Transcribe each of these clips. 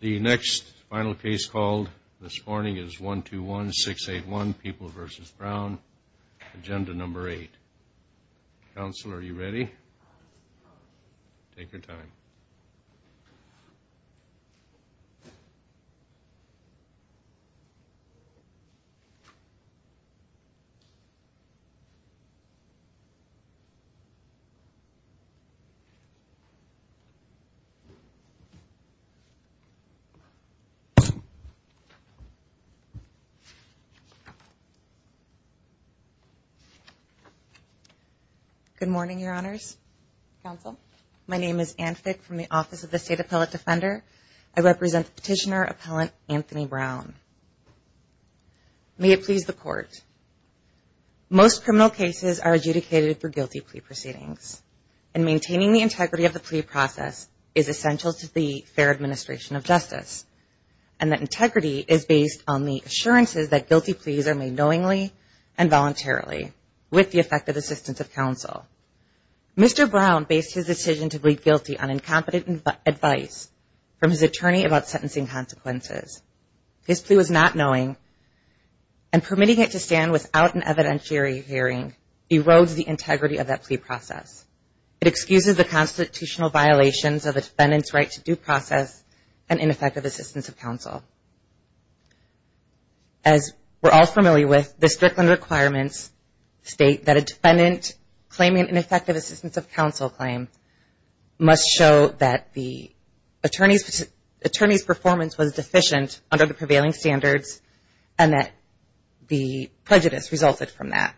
The next final case called this morning is 121681, People v. Brown, Agenda No. 8. Counsel, are you ready? Take your time. Good morning, Your Honors. Counsel? My name is Anne Fick from the Office of the State Appellate Defender. I represent Petitioner Appellant Anthony Brown. May it please the Court. Most criminal cases are adjudicated for guilty plea proceedings, and maintaining the integrity of the plea process is essential to the fair administration of justice, and that integrity is based on the assurances that guilty pleas are made knowingly and voluntarily, with the effective assistance of counsel. Mr. Brown based his decision to plead guilty on incompetent advice from his attorney about sentencing consequences. His plea was not knowing, and permitting it to stand without an evidentiary hearing erodes the integrity of that plea process. It excuses the constitutional violations of a defendant's right to due process and ineffective assistance of counsel. As we're all familiar with, the Strickland requirements state that a defendant claiming an ineffective assistance of counsel claim must show that the attorney's performance was deficient under the prevailing standards, and that the prejudice resulted from that.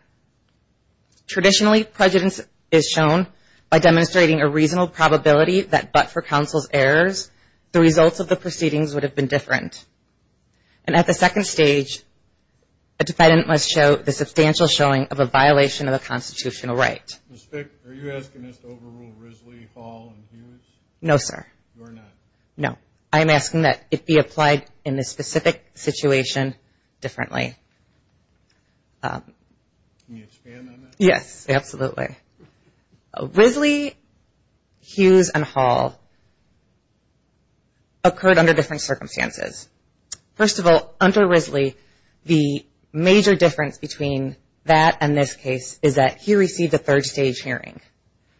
Traditionally, prejudice is shown by demonstrating a reasonable probability that but for counsel's errors, the results of the proceedings would have been different. And at the second stage, a defendant must show the substantial showing of a violation of a constitutional right. Ms. Fick, are you asking us to overrule Risley, Hall, and Hughes? No, sir. No, I'm asking that it be applied in this specific situation differently. Can you expand on that? Yes, absolutely. Risley, Hughes, and Hall occurred under different circumstances. First of all, under Risley, the major difference between that and this case is that he received a third stage hearing.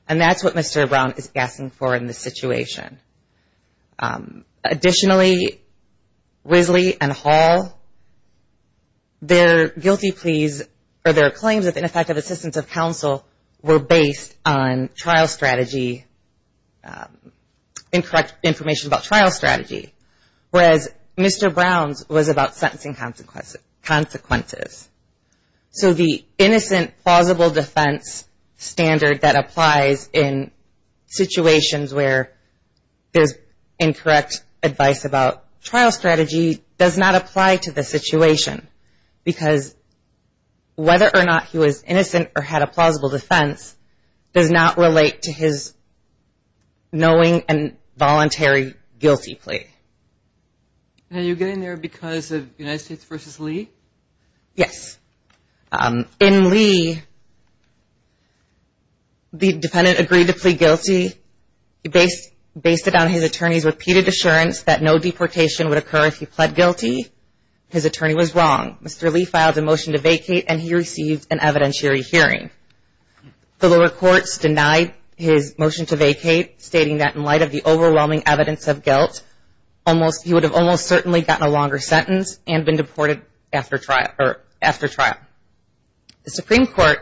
And that's what Mr. Brown is asking for in this situation. Additionally, Risley and Hall, their guilty pleas or their claims of ineffective assistance of counsel were based on trial strategy, incorrect information about trial strategy, whereas Mr. Brown's was about sentencing consequences. So the innocent, plausible defense standard that applies in situations where there's incorrect advice about trial strategy does not apply to the situation, because whether or not he was innocent or had a plausible defense does not relate to his knowing and voluntary guilty plea. Now, are you getting there because of United States v. Lee? Yes. In Lee, the defendant agreed to plead guilty. He based it on his attorney's repeated assurance that no deportation would occur if he pled guilty. His attorney was wrong. Mr. Lee filed a motion to vacate, and he received an evidentiary hearing. The lower courts denied his motion to vacate, stating that in light of the overwhelming evidence of guilt, he would have almost certainly gotten a longer sentence and been deported after trial. The Supreme Court,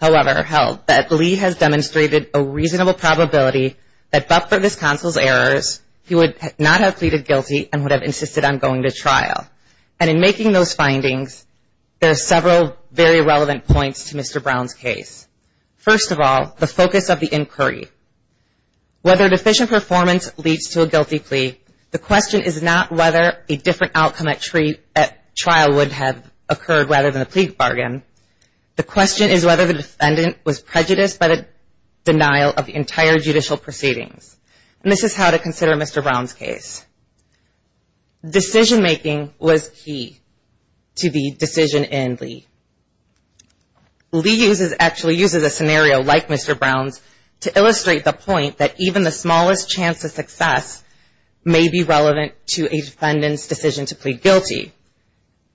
however, held that Lee has demonstrated a reasonable probability that, but for this counsel's errors, he would not have pleaded guilty and would have insisted on going to trial. And in making those findings, there are several very relevant points to Mr. Brown's case. First of all, the focus of the inquiry. Whether deficient performance leads to a guilty plea, the question is not whether a different outcome at trial would have occurred rather than a plea bargain. The question is whether the defendant was prejudiced by the denial of the entire judicial proceedings. And this is how to consider Mr. Brown's case. Decision-making was key to the decision in Lee. Lee actually uses a scenario like Mr. Brown's to illustrate the point that even the smallest chance of success may be relevant to a defendant's decision to plead guilty.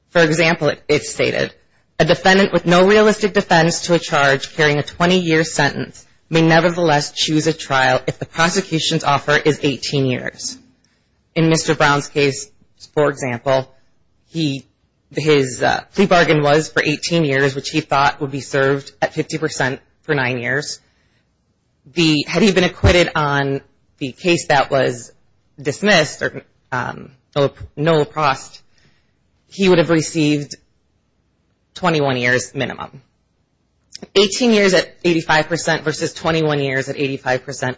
For example, it's stated, a defendant with no realistic defense to a charge carrying a 20-year sentence may nevertheless choose a trial if the prosecution's offer is 18 years. In Mr. Brown's case, for example, his plea bargain was for 18 years. Which he thought would be served at 50% for nine years. Had he been acquitted on the case that was dismissed, or no lacrosse, he would have received 21 years minimum. 18 years at 85% versus 21 years at 85%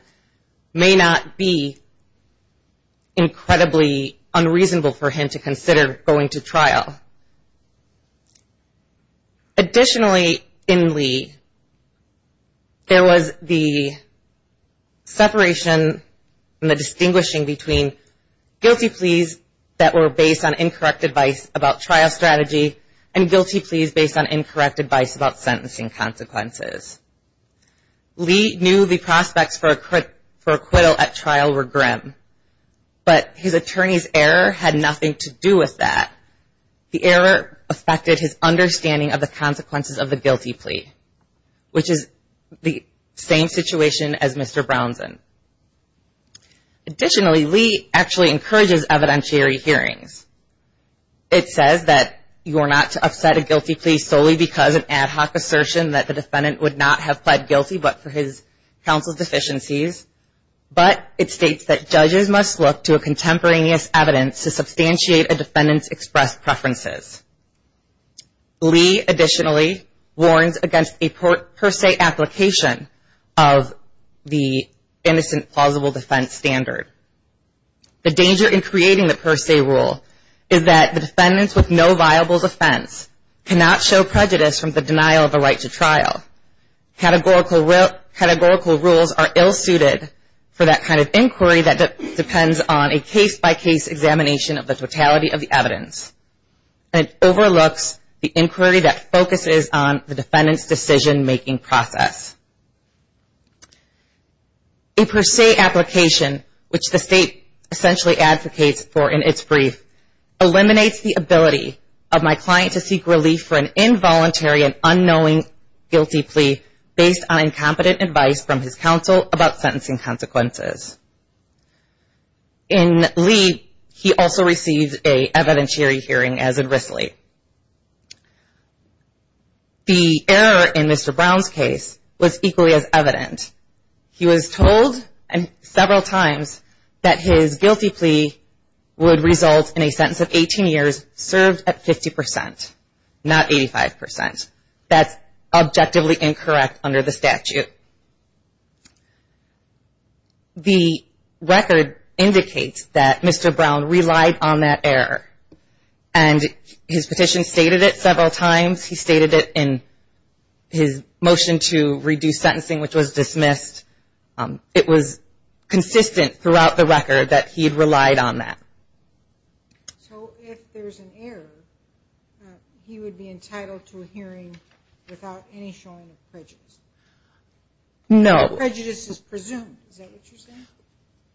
may not be incredibly unreasonable for him to consider going to trial. Additionally, in Lee, there was the separation and the distinguishing between guilty pleas that were based on incorrect advice about trial strategy and guilty pleas based on incorrect advice about sentencing consequences. Lee knew the prospects for acquittal at trial were grim. But his attorney's error had nothing to do with that. The error affected his understanding of the consequences of the guilty plea. Which is the same situation as Mr. Brown's. Additionally, Lee actually encourages evidentiary hearings. It says that you are not to upset a guilty plea solely because an ad hoc assertion that the defendant would not have pled guilty but for his counsel's deficiencies. But it states that judges must look to a contemporaneous evidence to substantiate a defendant's expressed preferences. Lee additionally warns against a per se application of the innocent plausible defense standard. The danger in creating the per se rule is that the defendant with no viable defense cannot show prejudice from the denial of a right to trial. Categorical rules are ill suited for that kind of inquiry that depends on a case by case examination of the totality of the evidence. It overlooks the inquiry that focuses on the defendant's decision making process. A per se application, which the state essentially advocates for in its brief, eliminates the ability of my client to seek relief for an involuntary and unknowing guilty plea based on incompetent advice from his counsel about sentencing consequences. In Lee, he also receives an evidentiary hearing as in Risley. The error in Mr. Brown's case was equally as evident. He was told several times that his guilty plea would result in a sentence of 18 years served at 50%, not 85%. That's objectively incorrect under the statute. The record indicates that Mr. Brown relied on that error, and his petition stated it several times. He stated it in his motion to reduce sentencing, which was dismissed. It was consistent throughout the record that he had relied on that. So if there's an error, he would be entitled to a hearing without any showing of prejudice? No.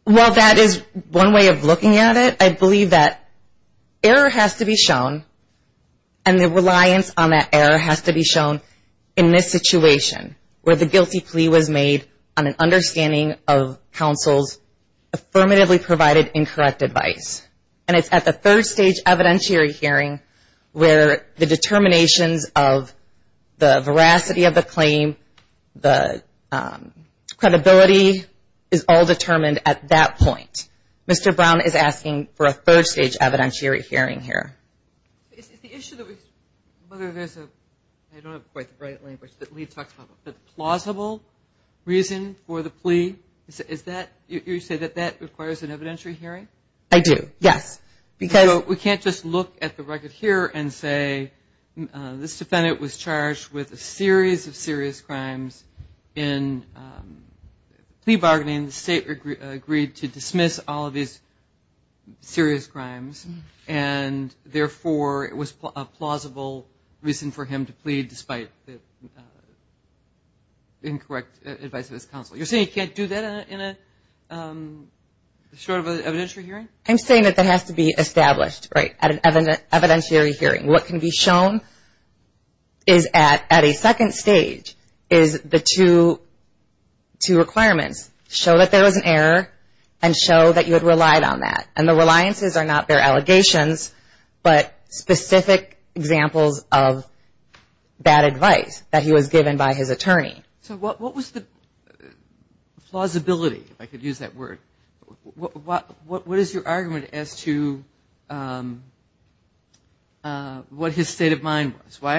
Well, that is one way of looking at it. I believe that error has to be shown, and the reliance on that error has to be shown in this situation, where the guilty plea was made on an understanding of counsel's affirmatively provided incorrect advice. And it's at the third stage evidentiary hearing where the determinations of the veracity of the claim, the credibility, is all determined at that point. Mr. Brown is asking for a third stage evidentiary hearing here. Is the issue that there's a plausible reason for the plea, you say that that requires an evidentiary hearing? I do, yes. We can't just look at the record here and say, this defendant was charged with a series of serious crimes in plea bargaining. The state agreed to dismiss all of these serious crimes, and therefore it was a plausible reason for him to plead despite the incorrect advice of his counsel. You're saying you can't do that in a short evidentiary hearing? I'm saying that that has to be established at an evidentiary hearing. What can be shown is at a second stage is the two requirements. Show that there was an error, and show that you had relied on that. And the reliances are not their allegations, but specific examples of bad advice that he was given by his attorney. So what was the plausibility, if I could use that word? What is your argument as to what his state of mind was? We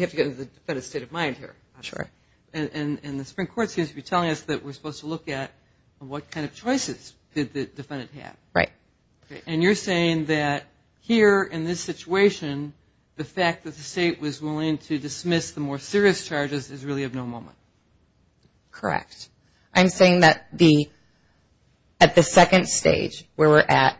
have to get into the defendant's state of mind here. And the Supreme Court seems to be telling us that we're supposed to look at what kind of choices did the defendant have. And you're saying that here in this situation, the fact that the state was willing to dismiss the more serious charges is really of no moment? Correct. I'm saying that at the second stage where we're at,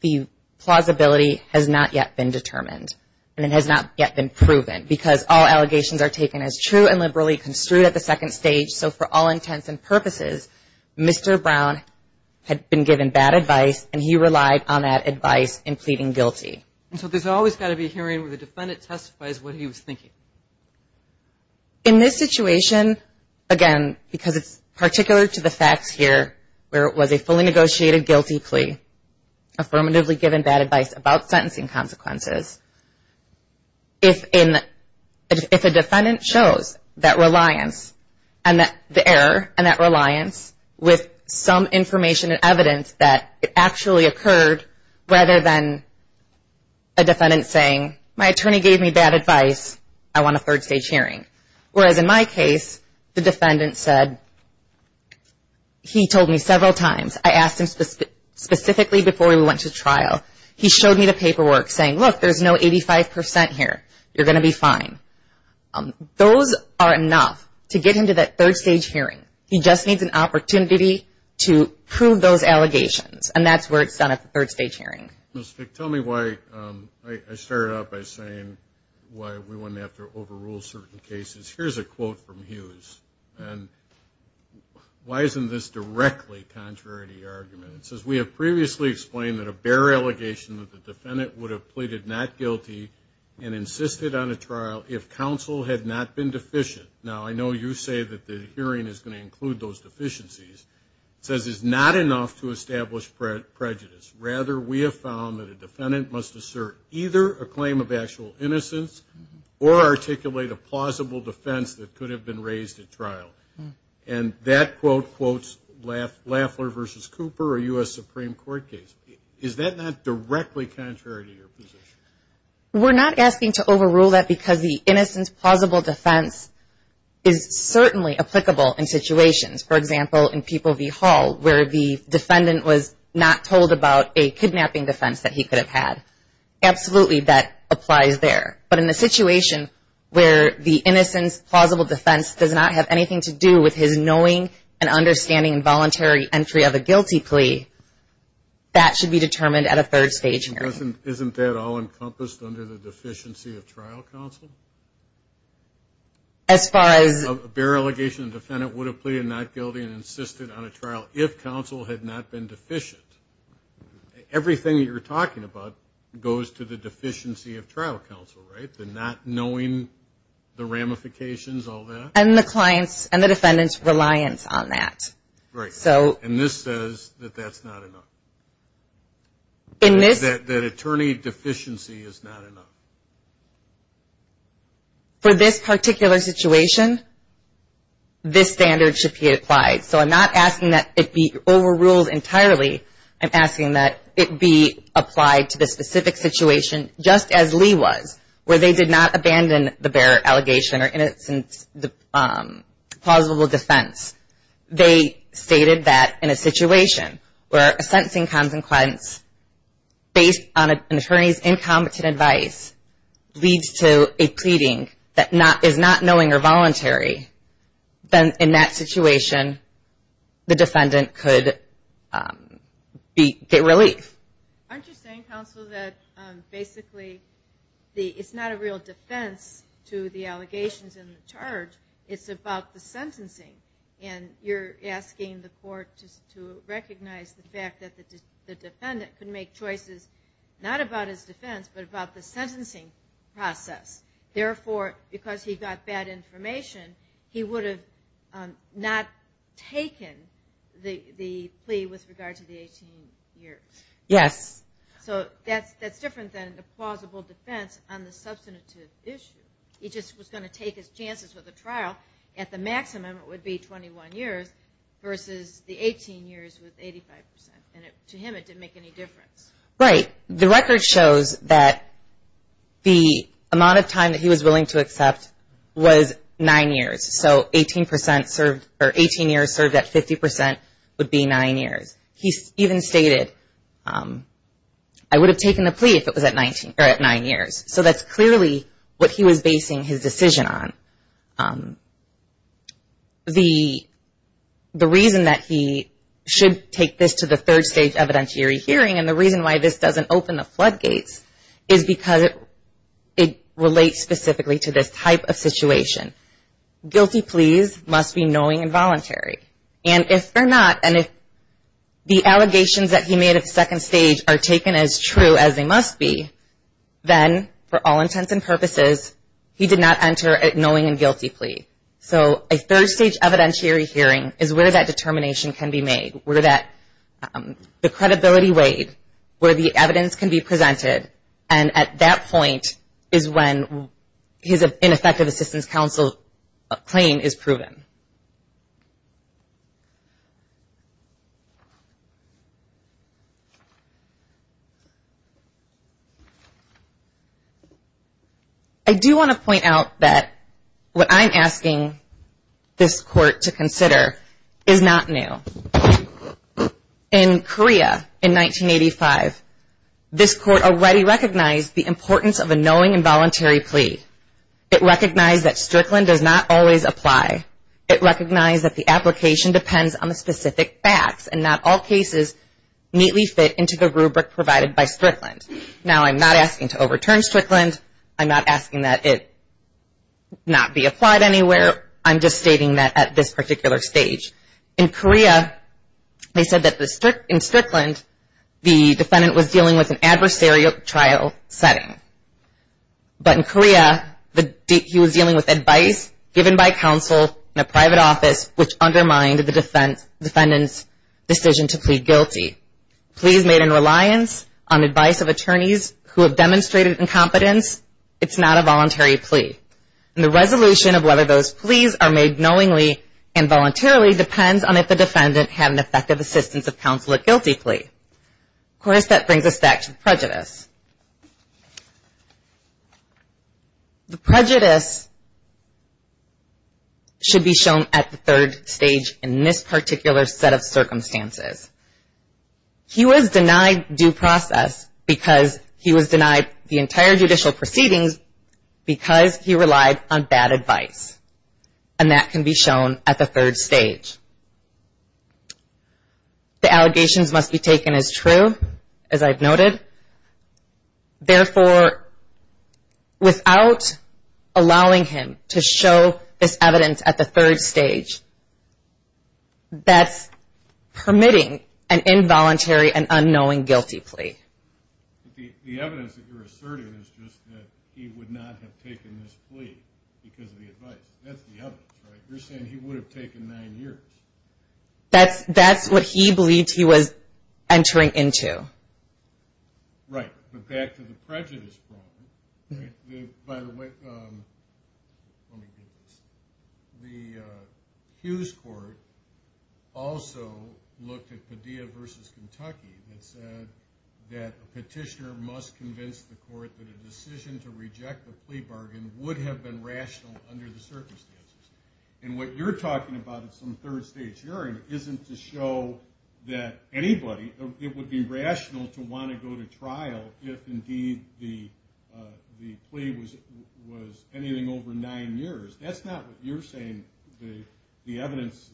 the plausibility has not yet been determined. And it has not yet been proven, because all allegations are taken as true and liberally construed at the second stage. So for all intents and purposes, Mr. Brown had been given bad advice, and he relied on that advice in pleading guilty. And so there's always got to be a hearing where the defendant testifies what he was thinking. In this situation, again, because it's particular to the facts here, where it was a fully negotiated guilty plea, affirmatively given bad advice about sentencing consequences, if a defendant shows that reliance and the error and that reliance with some information and evidence that it actually occurred rather than a defendant saying, my attorney gave me bad advice, I want a third stage hearing. Whereas in my case, the defendant said, he told me several times, I asked him specifically before we went to trial, he showed me the paperwork saying, look, there's no 85 percent here, you're going to be fine. Those are enough to get him to that third stage hearing. He just needs an opportunity to prove those allegations. And that's where it's done at the third stage hearing. Mr. Fick, tell me why I started out by saying why we wouldn't have to overrule certain cases. Here's a quote from Hughes, and why isn't this directly contrary to your argument? It says, we have previously explained that a bare allegation that the defendant would have pleaded not guilty and insisted on a trial if counsel had not been deficient. Now, I know you say that the hearing is going to include those deficiencies. It says it's not enough to establish prejudice. Rather, we have found that a defendant must assert either a claim of actual innocence or articulate a plausible defense that could have been raised at trial. And that quote quotes Lafler v. Cooper, a U.S. Supreme Court case. Is that not directly contrary to your position? We're not asking to overrule that because the innocence plausible defense is certainly applicable in situations. For example, in People v. Hall, where the defendant was not told about a kidnapping defense that he could have had. Absolutely, that applies there. But in the situation where the innocence plausible defense does not have anything to do with his knowing and understanding involuntary entry of a guilty plea, that should be determined at a third stage hearing. Isn't that all encompassed under the deficiency of trial counsel? As far as... A bare allegation the defendant would have pleaded not guilty and insisted on a trial if counsel had not been deficient. Everything you're talking about goes to the deficiency of trial counsel, right? The not knowing the ramifications, all that? And the client's and the defendant's reliance on that. And this says that that's not enough. That attorney deficiency is not enough. For this particular situation, this standard should be applied. So I'm not asking that it be overruled entirely. I'm asking that it be applied to the specific situation just as Lee was, where they did not abandon the bare allegation or innocence plausible defense. They stated that in a situation where a sentencing consequence based on an attorney's incompetent advice leads to a pleading that is not knowing or voluntary, then in that situation the defendant could get relief. Aren't you saying, counsel, that basically it's not a real defense to the allegations in the charge? It's about the sentencing. And you're asking the court to recognize the fact that the defendant could make choices not about his defense, but about the sentencing process. Therefore, because he got bad information, he would have not taken the plea with regard to the 18 years. Yes. So that's different than the plausible defense on the substantive issue. He just was going to take his chances with the trial. At the maximum it would be 21 years versus the 18 years with 85%. And to him it didn't make any difference. Right. The record shows that the amount of time that he was willing to accept was nine years. So 18 years served at 50% would be nine years. He even stated, I would have taken the plea if it was at nine years. So that's clearly what he was basing his decision on. The reason that he should take this to the third stage evidentiary hearing, and the reason why this doesn't open the floodgates, is because it relates specifically to this type of situation. Guilty pleas must be knowing and voluntary. And if they're not, and if the allegations that he made at the second stage are taken as true as they must be, then for all intents and purposes, he did not enter a knowing and guilty plea. So a third stage evidentiary hearing is where that determination can be made, where the credibility weighed, where the evidence can be presented, and at that point is when his ineffective assistance counsel claim is proven. I do want to point out that what I'm asking this court to consider is not new. In Korea in 1985, this court already recognized the importance of a knowing and voluntary plea. It recognized that Strickland does not always apply. It recognized that the application depends on the specific facts, and not all cases neatly fit into the rubric provided by Strickland. Now I'm not asking to overturn Strickland. I'm not asking that it not be applied anywhere. I'm just stating that at this particular stage. In Korea, they said that in Strickland, the defendant was dealing with an adversarial trial setting. But in Korea, he was dealing with advice given by counsel in a private office, which undermined the defendant's decision to plead guilty. Pleas made in reliance on advice of attorneys who have demonstrated incompetence, it's not a voluntary plea. And the resolution of whether those pleas are made knowingly and voluntarily depends on if the defendant had an effective assistance of counsel at guilty plea. Of course, that brings us back to prejudice. The prejudice should be shown at the third stage in this particular set of circumstances. He was denied due process because he was denied the entire judicial proceedings because he relied on bad advice. And that can be shown at the third stage. The allegations must be taken as true, as I've noted. Therefore, without allowing him to show this evidence at the third stage, that's permitting an involuntary and unknowing guilty plea. The evidence that you're asserting is just that he would not have taken this plea because of the advice. That's the evidence, right? You're saying he would have taken nine years. That's what he believed he was entering into. Right, but back to the prejudice problem. By the way, let me get this. The Hughes Court also looked at Padilla v. Kentucky and said that a petitioner must convince the court that a decision to reject the plea bargain would have been rational under the circumstances. And what you're talking about at some third stage hearing isn't to show that anybody, it would be rational to want to go to trial if indeed the plea was anything over nine years. That's not what you're saying the evidence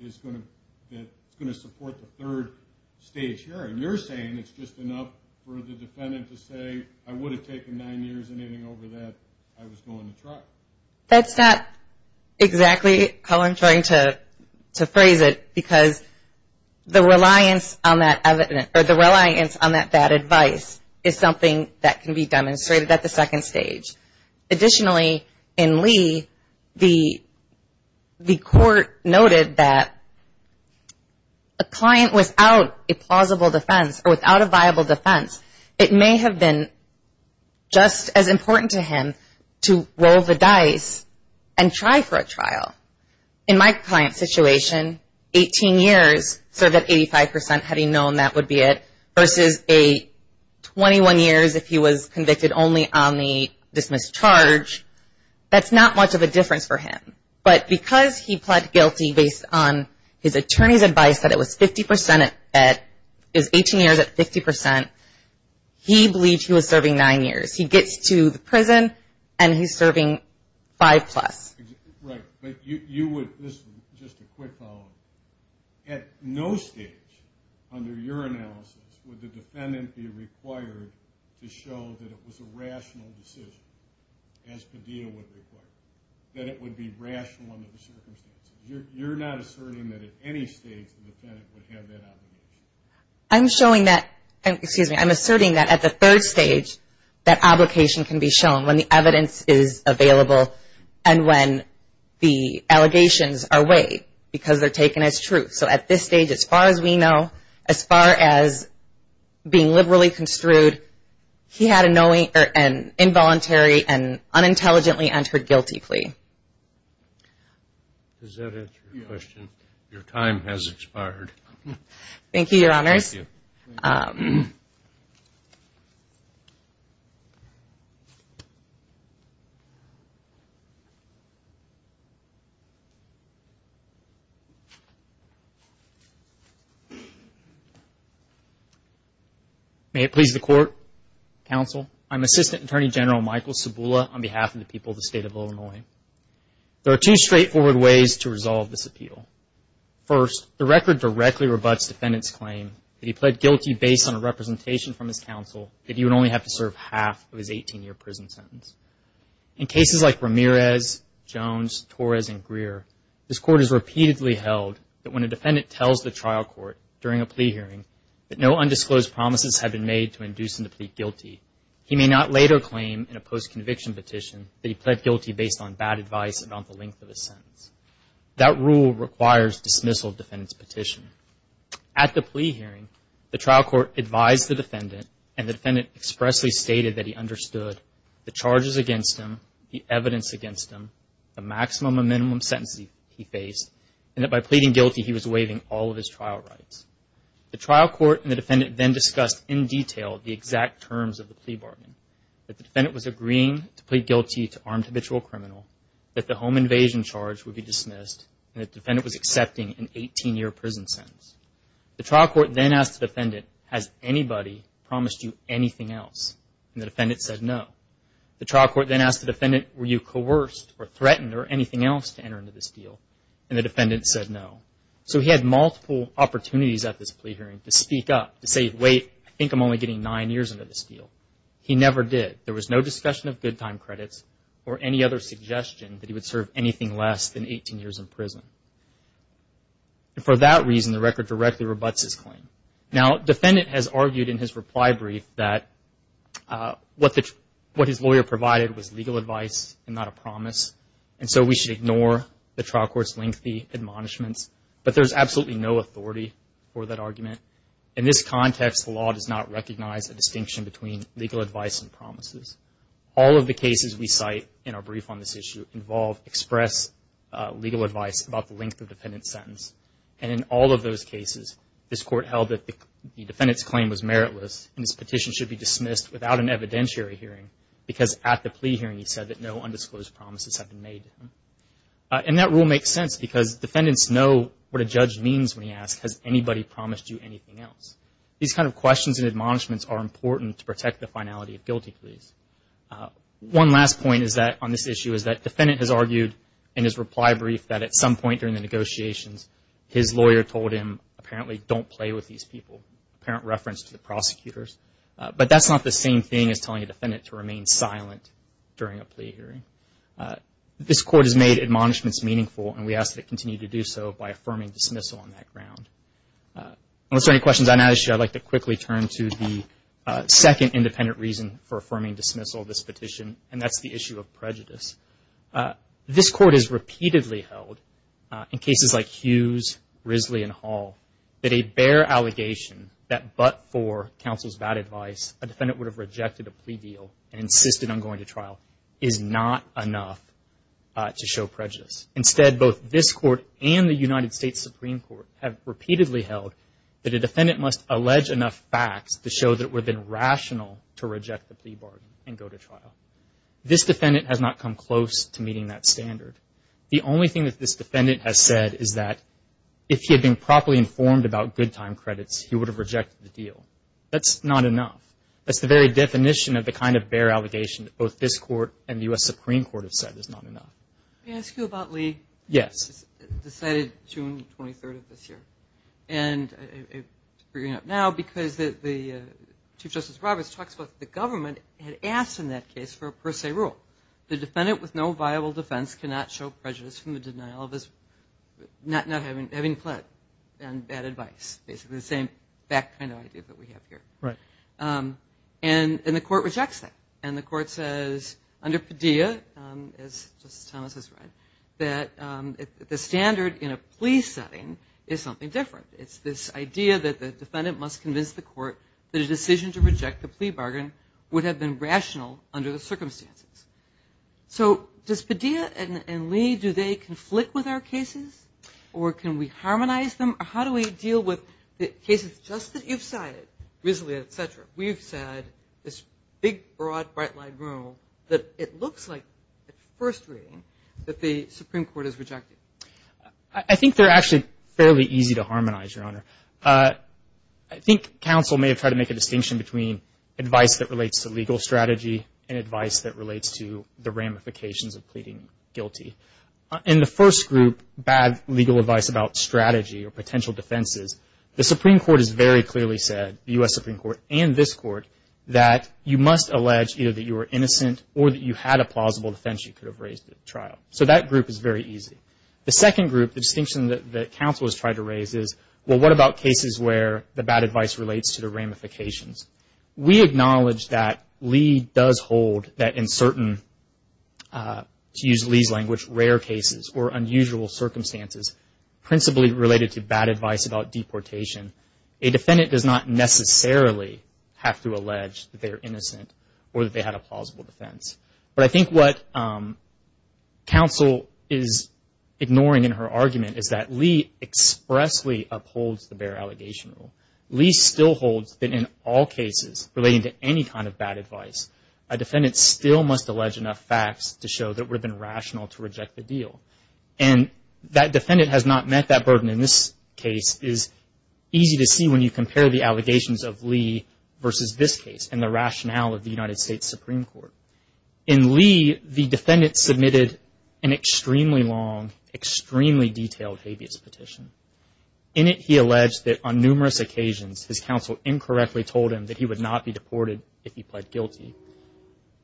is going to support the third stage hearing. You're saying it's just enough for the defendant to say I would have taken nine years and anything over that I was going to trial. That's not exactly how I'm trying to phrase it because the reliance on that bad advice is something that can be demonstrated at the second stage. Additionally, in Lee, the court noted that a client without a plausible defense or without a viable defense, it may have been just as important to him to roll the dice and try for a trial. In my client's situation, 18 years, so that 85% had he known that would be it, versus a 21 years if he was convicted only on the dismissed charge, that's not much of a difference for him. But because he pled guilty based on his attorney's advice that it was 18 years at 50%, he believed he was serving nine years. He gets to the prison and he's serving five plus. Right, but you would, this is just a quick follow-up, at no stage under your analysis would the defendant be required to show that it was a rational decision as Padilla would require, that it would be rational under the circumstances. You're not asserting that at any stage the defendant would have that obligation. I'm showing that, excuse me, I'm asserting that at the third stage, that obligation can be shown when the evidence is available and when the allegations are weighed because they're taken as truth. So at this stage, as far as we know, as far as being liberally construed, he had an involuntary and unintelligently entered guilty plea. Does that answer your question? Your time has expired. Thank you, Your Honors. May it please the Court, Counsel, I'm Assistant Attorney General Michael Sabula on behalf of the people of the State of Illinois. There are two straightforward ways to resolve this appeal. First, the record directly rebuts defendant's claim that he pled guilty based on a representation from his counsel that he would only have to serve half of his 18-year prison sentence. In cases like Ramirez, Jones, Torres, and Greer, this Court has repeatedly held that when a defendant tells the trial court during a plea hearing that no undisclosed promises have been made to induce him to plead guilty, he may not later claim in a post-conviction petition that he pled guilty based on bad advice and on the length of his sentence. At the plea hearing, the trial court advised the defendant, and the defendant expressly stated that he understood the charges against him, the evidence against him, the maximum and minimum sentences he faced, and that by pleading guilty he was waiving all of his trial rights. The trial court and the defendant then discussed in detail the exact terms of the plea bargain, that the defendant was agreeing to plead guilty to armed habitual criminal, that the home invasion charge would be dismissed, and the defendant was accepting an 18-year prison sentence. The trial court then asked the defendant, has anybody promised you anything else? And the defendant said no. The trial court then asked the defendant, were you coerced or threatened or anything else to enter into this deal? And the defendant said no. So he had multiple opportunities at this plea hearing to speak up, to say, wait, I think I'm only getting nine years under this deal. He never did. There was no discussion of good time credits or any other suggestion that he would serve anything less than 18 years in prison. And for that reason, the record directly rebutts his claim. Now, defendant has argued in his reply brief that what his lawyer provided was legal advice and not a promise, and so we should ignore the trial court's lengthy admonishments. But there's absolutely no authority for that argument. In this context, the law does not recognize a distinction between legal advice and promises. All of the cases we cite in our brief on this issue involve express legal advice about the length of defendant's sentence. And in all of those cases, this court held that the defendant's claim was meritless, and his petition should be dismissed without an evidentiary hearing, because at the plea hearing he said that no undisclosed promises had been made to him. And that rule makes sense, because defendants know what a judge means when he asks, has anybody promised you anything else? These kind of questions and admonishments are important to protect the finality of guilty pleas. One last point on this issue is that defendant has argued in his reply brief that at some point during the negotiations, his lawyer told him, apparently, don't play with these people, apparent reference to the prosecutors. But that's not the same thing as telling a defendant to remain silent during a plea hearing. This court has made admonishments meaningful, and we ask that it continue to do so by affirming dismissal on that ground. Unless there are any questions on that issue, I'd like to quickly turn to the second independent reason for affirming dismissal of this petition, and that's the issue of prejudice. This court has repeatedly held, in cases like Hughes, Risley, and Hall, that a bare allegation that but for counsel's bad advice, a defendant would have rejected a plea deal and insisted on going to trial is not enough to show prejudice. Instead, both this court and the United States Supreme Court have repeatedly held that a defendant must allege enough facts to show that it would have been rational to reject the plea bargain and go to trial. This defendant has not come close to meeting that standard. The only thing that this defendant has said is that if he had been properly informed about good time credits, he would have rejected the deal. That's not enough. That's the very definition of the kind of bare allegation that both this court and the U.S. Supreme Court have said is not enough. Let me ask you about Lee. Yes. It was decided June 23rd of this year. I bring it up now because Chief Justice Roberts talks about the government had asked in that case for a per se rule. The defendant with no viable defense cannot show prejudice from the denial of his, not having pled, and bad advice. Basically the same back kind of idea that we have here. The court rejects that. And the court says under Padilla, as Justice Thomas has read, that the standard in a plea setting is something different. It's this idea that the defendant must convince the court that a decision to reject the plea bargain would have been rational under the circumstances. So does Padilla and Lee, do they conflict with our cases? Or can we harmonize them? How do we deal with cases just that you've cited? We've said this big, broad, bright line rule that it looks like at first reading that the Supreme Court has rejected. I think they're actually fairly easy to harmonize, Your Honor. I think counsel may have tried to make a distinction between advice that relates to legal strategy and advice that relates to the ramifications of pleading guilty. In the first group, bad legal advice about strategy or potential defenses, the Supreme Court has very clearly said, the U.S. Supreme Court and this Court, that you must allege either that you were innocent or that you had a plausible defense you could have raised at trial. So that group is very easy. The second group, the distinction that counsel has tried to raise is, well, what about cases where the bad advice relates to the ramifications? We acknowledge that Lee does hold that in certain, to use Lee's language, rare cases or unusual circumstances, principally related to bad advice about deportation, a defendant does not necessarily have to allege that they are innocent or that they had a plausible defense. But I think what counsel is ignoring in her argument is that Lee expressly upholds the bare allegation rule. Lee still holds that in all cases relating to any kind of bad advice, a defendant still must allege enough facts to show that it would have been rational to reject the deal. And that defendant has not met that burden in this case is easy to see when you compare the allegations of Lee versus this case and the rationale of the United States Supreme Court. In Lee, the defendant submitted an extremely long, extremely detailed habeas petition. In it he alleged that on numerous occasions his counsel incorrectly told him that he would not be deported if he pled guilty.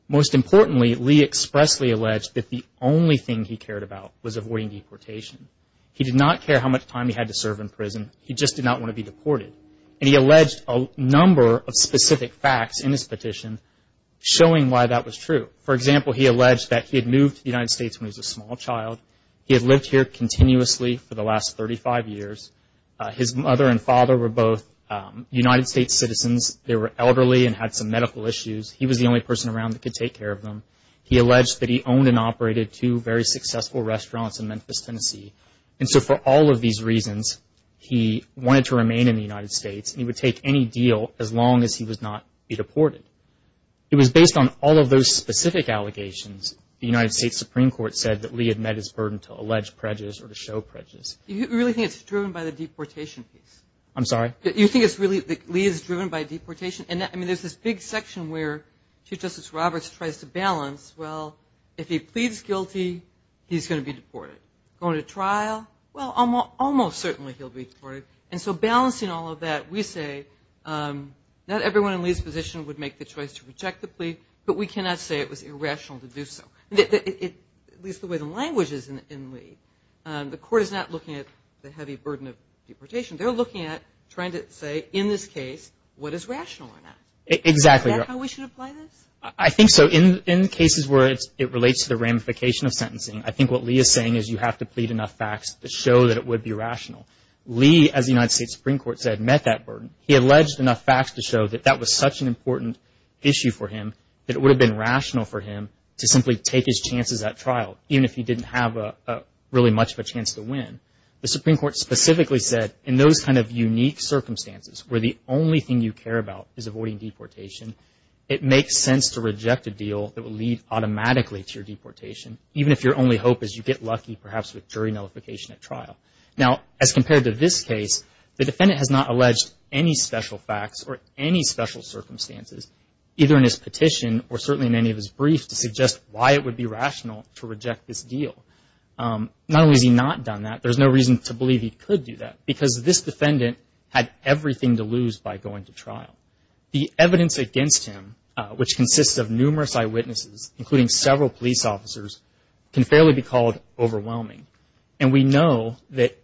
Most importantly, Lee expressly alleged that the only thing he cared about was avoiding deportation. He did not care how much time he had to serve in prison, he just did not want to be deported. And he alleged a number of specific facts in his petition showing why that was true. For example, he alleged that he had moved to the United States when he was a small child, he had lived here continuously for the last 35 years, his mother and father were both United States citizens, they were elderly and had some medical issues, he was the only person around that could take care of them. He alleged that he owned and operated two very successful restaurants in Memphis, Tennessee. And so for all of these reasons he wanted to remain in the United States and he would take any deal as long as he would not be deported. It was based on all of those specific allegations the United States Supreme Court said that Lee had met his burden to allege prejudice or to show prejudice. You really think it's driven by the deportation piece? I'm sorry? You think it's really that Lee is driven by deportation? I mean there's this big section where Chief Justice Roberts tries to balance, well if he pleads guilty he's going to be deported. Going to trial, well almost certainly he'll be deported. And so balancing all of that we say not everyone in Lee's position would make the choice to reject the plea, but we cannot say it was irrational to do so. At least the way the language is in Lee. The court is not looking at the heavy burden of deportation, they're looking at trying to say in this case what is rational or not. Exactly. Is that how we should apply this? I think so. In cases where it relates to the ramification of sentencing, I think what Lee is saying is you have to plead enough facts to show that it would be rational. Lee, as the United States Supreme Court said, met that burden. He alleged enough facts to show that that was such an important issue for him that it would have been rational for him to simply take his chances at trial, even if he didn't have really much of a chance to win. The Supreme Court specifically said in those kind of unique circumstances where the only thing you care about is avoiding deportation, it makes sense to reject a deal that will lead automatically to your deportation, even if your only hope is you get lucky perhaps with jury nullification at trial. Now, as compared to this case, the defendant has not alleged any special facts or any special circumstances, either in his petition or certainly in any of his briefs, to suggest why it would be rational to reject this deal. Not only has he not done that, there's no reason to believe he could do that, because this defendant had everything to lose by going to trial. The evidence against him, which consists of numerous eyewitnesses, including several police officers, can fairly be called overwhelming. And we know that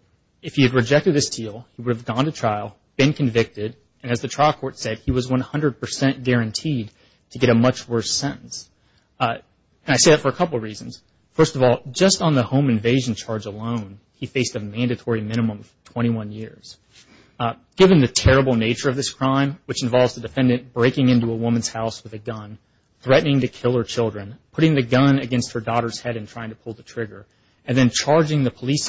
if he had rejected this deal, he would have gone to trial, been convicted, and as the trial court said, he was 100 percent guaranteed to get a much worse sentence. And I say that for a couple of reasons. First of all, just on the home invasion charge alone, he faced a mandatory minimum of 21 years. Given the terrible nature of this crime, which involves the defendant breaking into a woman's house with a gun, threatening to kill her children, putting the gun against her daughter's head and trying to pull the trigger, and then charging the police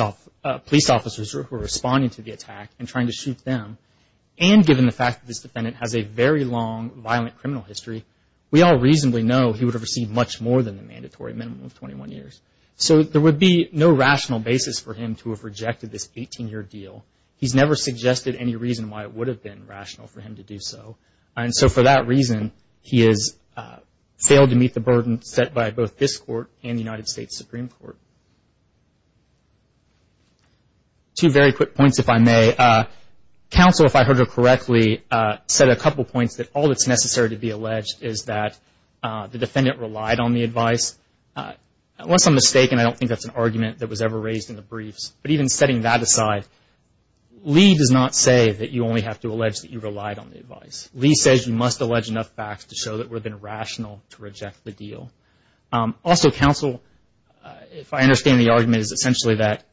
officers who are responding to the attack and trying to shoot them, and given the fact that this defendant has a very long violent criminal history, we all reasonably know he would have received much more than the mandatory minimum of 21 years. So there would be no rational basis for him to have rejected this 18-year deal. He's never suggested any reason why it would have been rational for him to do so. And so for that reason, he has failed to meet the burden set by both this court and the United States Supreme Court. Two very quick points, if I may. Counsel, if I heard her correctly, said a couple points, that all that's necessary to be alleged is that the defendant relied on the advice. Unless I'm mistaken, I don't think that's an argument that was ever raised in the briefs. But even setting that aside, Lee does not say that you only have to allege that you relied on the advice. Lee says you must allege enough facts to show that it would have been rational to reject the deal. Also, counsel, if I understand the argument, is essentially that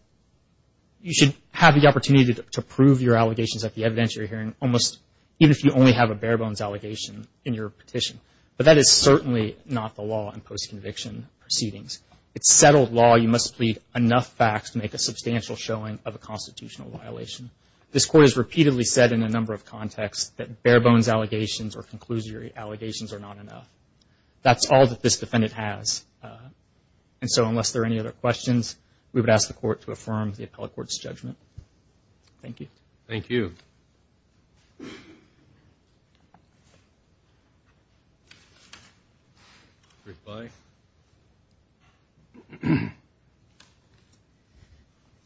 you should have the opportunity to prove your allegations at the evidence you're hearing, even if you only have a bare-bones allegation in your petition. But that is certainly not the law in post-conviction proceedings. It's settled law you must plead enough facts to make a substantial showing of a constitutional violation. This court has repeatedly said in a number of contexts that bare-bones allegations or conclusory allegations are not enough. That's all that this defendant has. And so unless there are any other questions, we would ask the court to affirm the appellate court's judgment. Thank you. Thank you.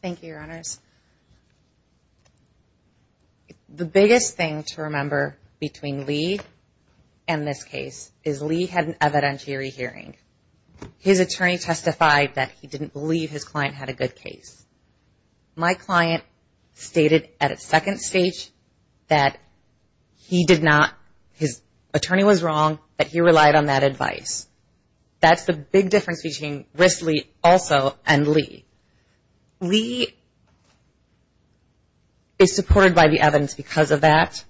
Thank you, Your Honors. The biggest thing to remember between Lee and this case is Lee had an evidentiary hearing. His attorney testified that he didn't believe his client had a good case. My client stated at a second stage that he did not, his attorney was wrong, that he relied on that advice. That's the big difference between Risley also and Lee. Lee is supported by the evidence because of that.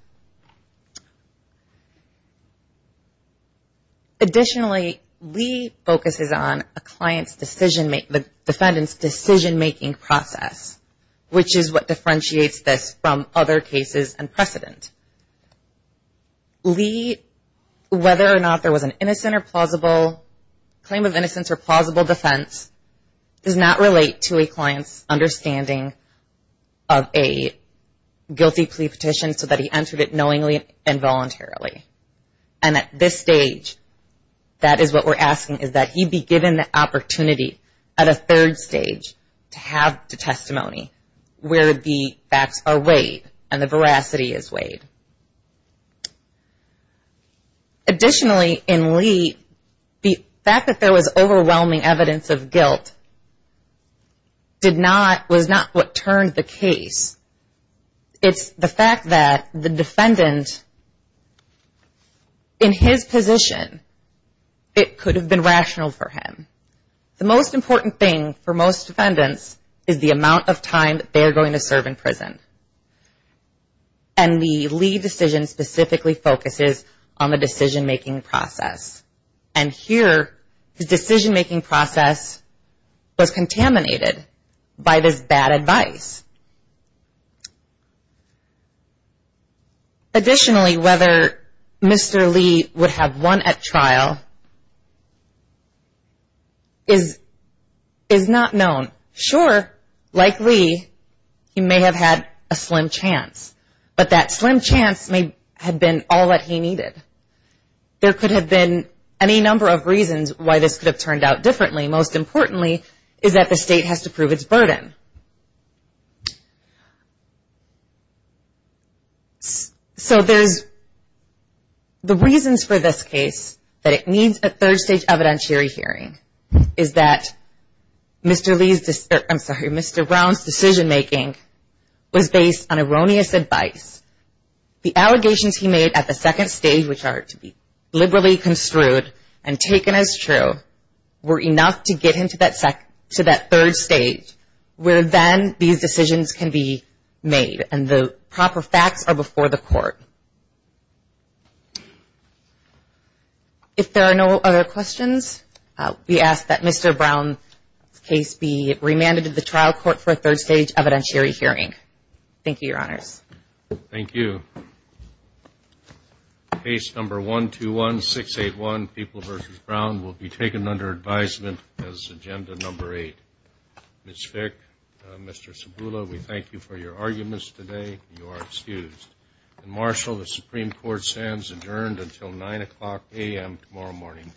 Additionally, Lee focuses on a client's decision, the defendant's decision-making process, which is what differentiates this from other cases and precedent. Lee, whether or not there was an innocent or plausible claim of innocence or plausible defense, does not relate to a client's understanding of a guilty plea petition so that he entered it willingly and voluntarily. And at this stage, that is what we're asking, is that he be given the opportunity at a third stage to have the testimony where the facts are weighed and the veracity is weighed. Additionally, in Lee, the fact that there was overwhelming evidence of guilt was not what turned the case. It's the fact that the defendant, in his position, it could have been rational for him. The most important thing for most defendants is the amount of time that they are going to serve in prison. And the Lee decision specifically focuses on the decision-making process. And here, the decision-making process was contaminated by this bad advice. Additionally, whether Mr. Lee would have won at trial is not known. Sure, like Lee, he may have had a slim chance, but that slim chance may have been all that he needed. There could have been any number of reasons why this could have turned out differently. Most importantly, is that the state has to prove its burden. So there's, the reasons for this case, that it needs a third stage evidentiary hearing, is that Mr. Lee's, I'm sorry, Mr. Brown's decision-making was based on erroneous advice. The allegations he made at the second stage, which are to be liberally construed and taken as true, were enough to get him to that third stage, where then these decisions can be made. And the proper facts are before the court. If there are no other questions, we ask that Mr. Brown's case be remanded to the trial court for a third stage evidentiary hearing. Thank you, Your Honors. Thank you. Case number 121681, People v. Brown, will be taken under advisement as agenda number eight. Ms. Fick, Mr. Sabula, we thank you for your arguments today. You are excused. And, Marshal, the Supreme Court stands adjourned until 9 o'clock a.m. tomorrow morning.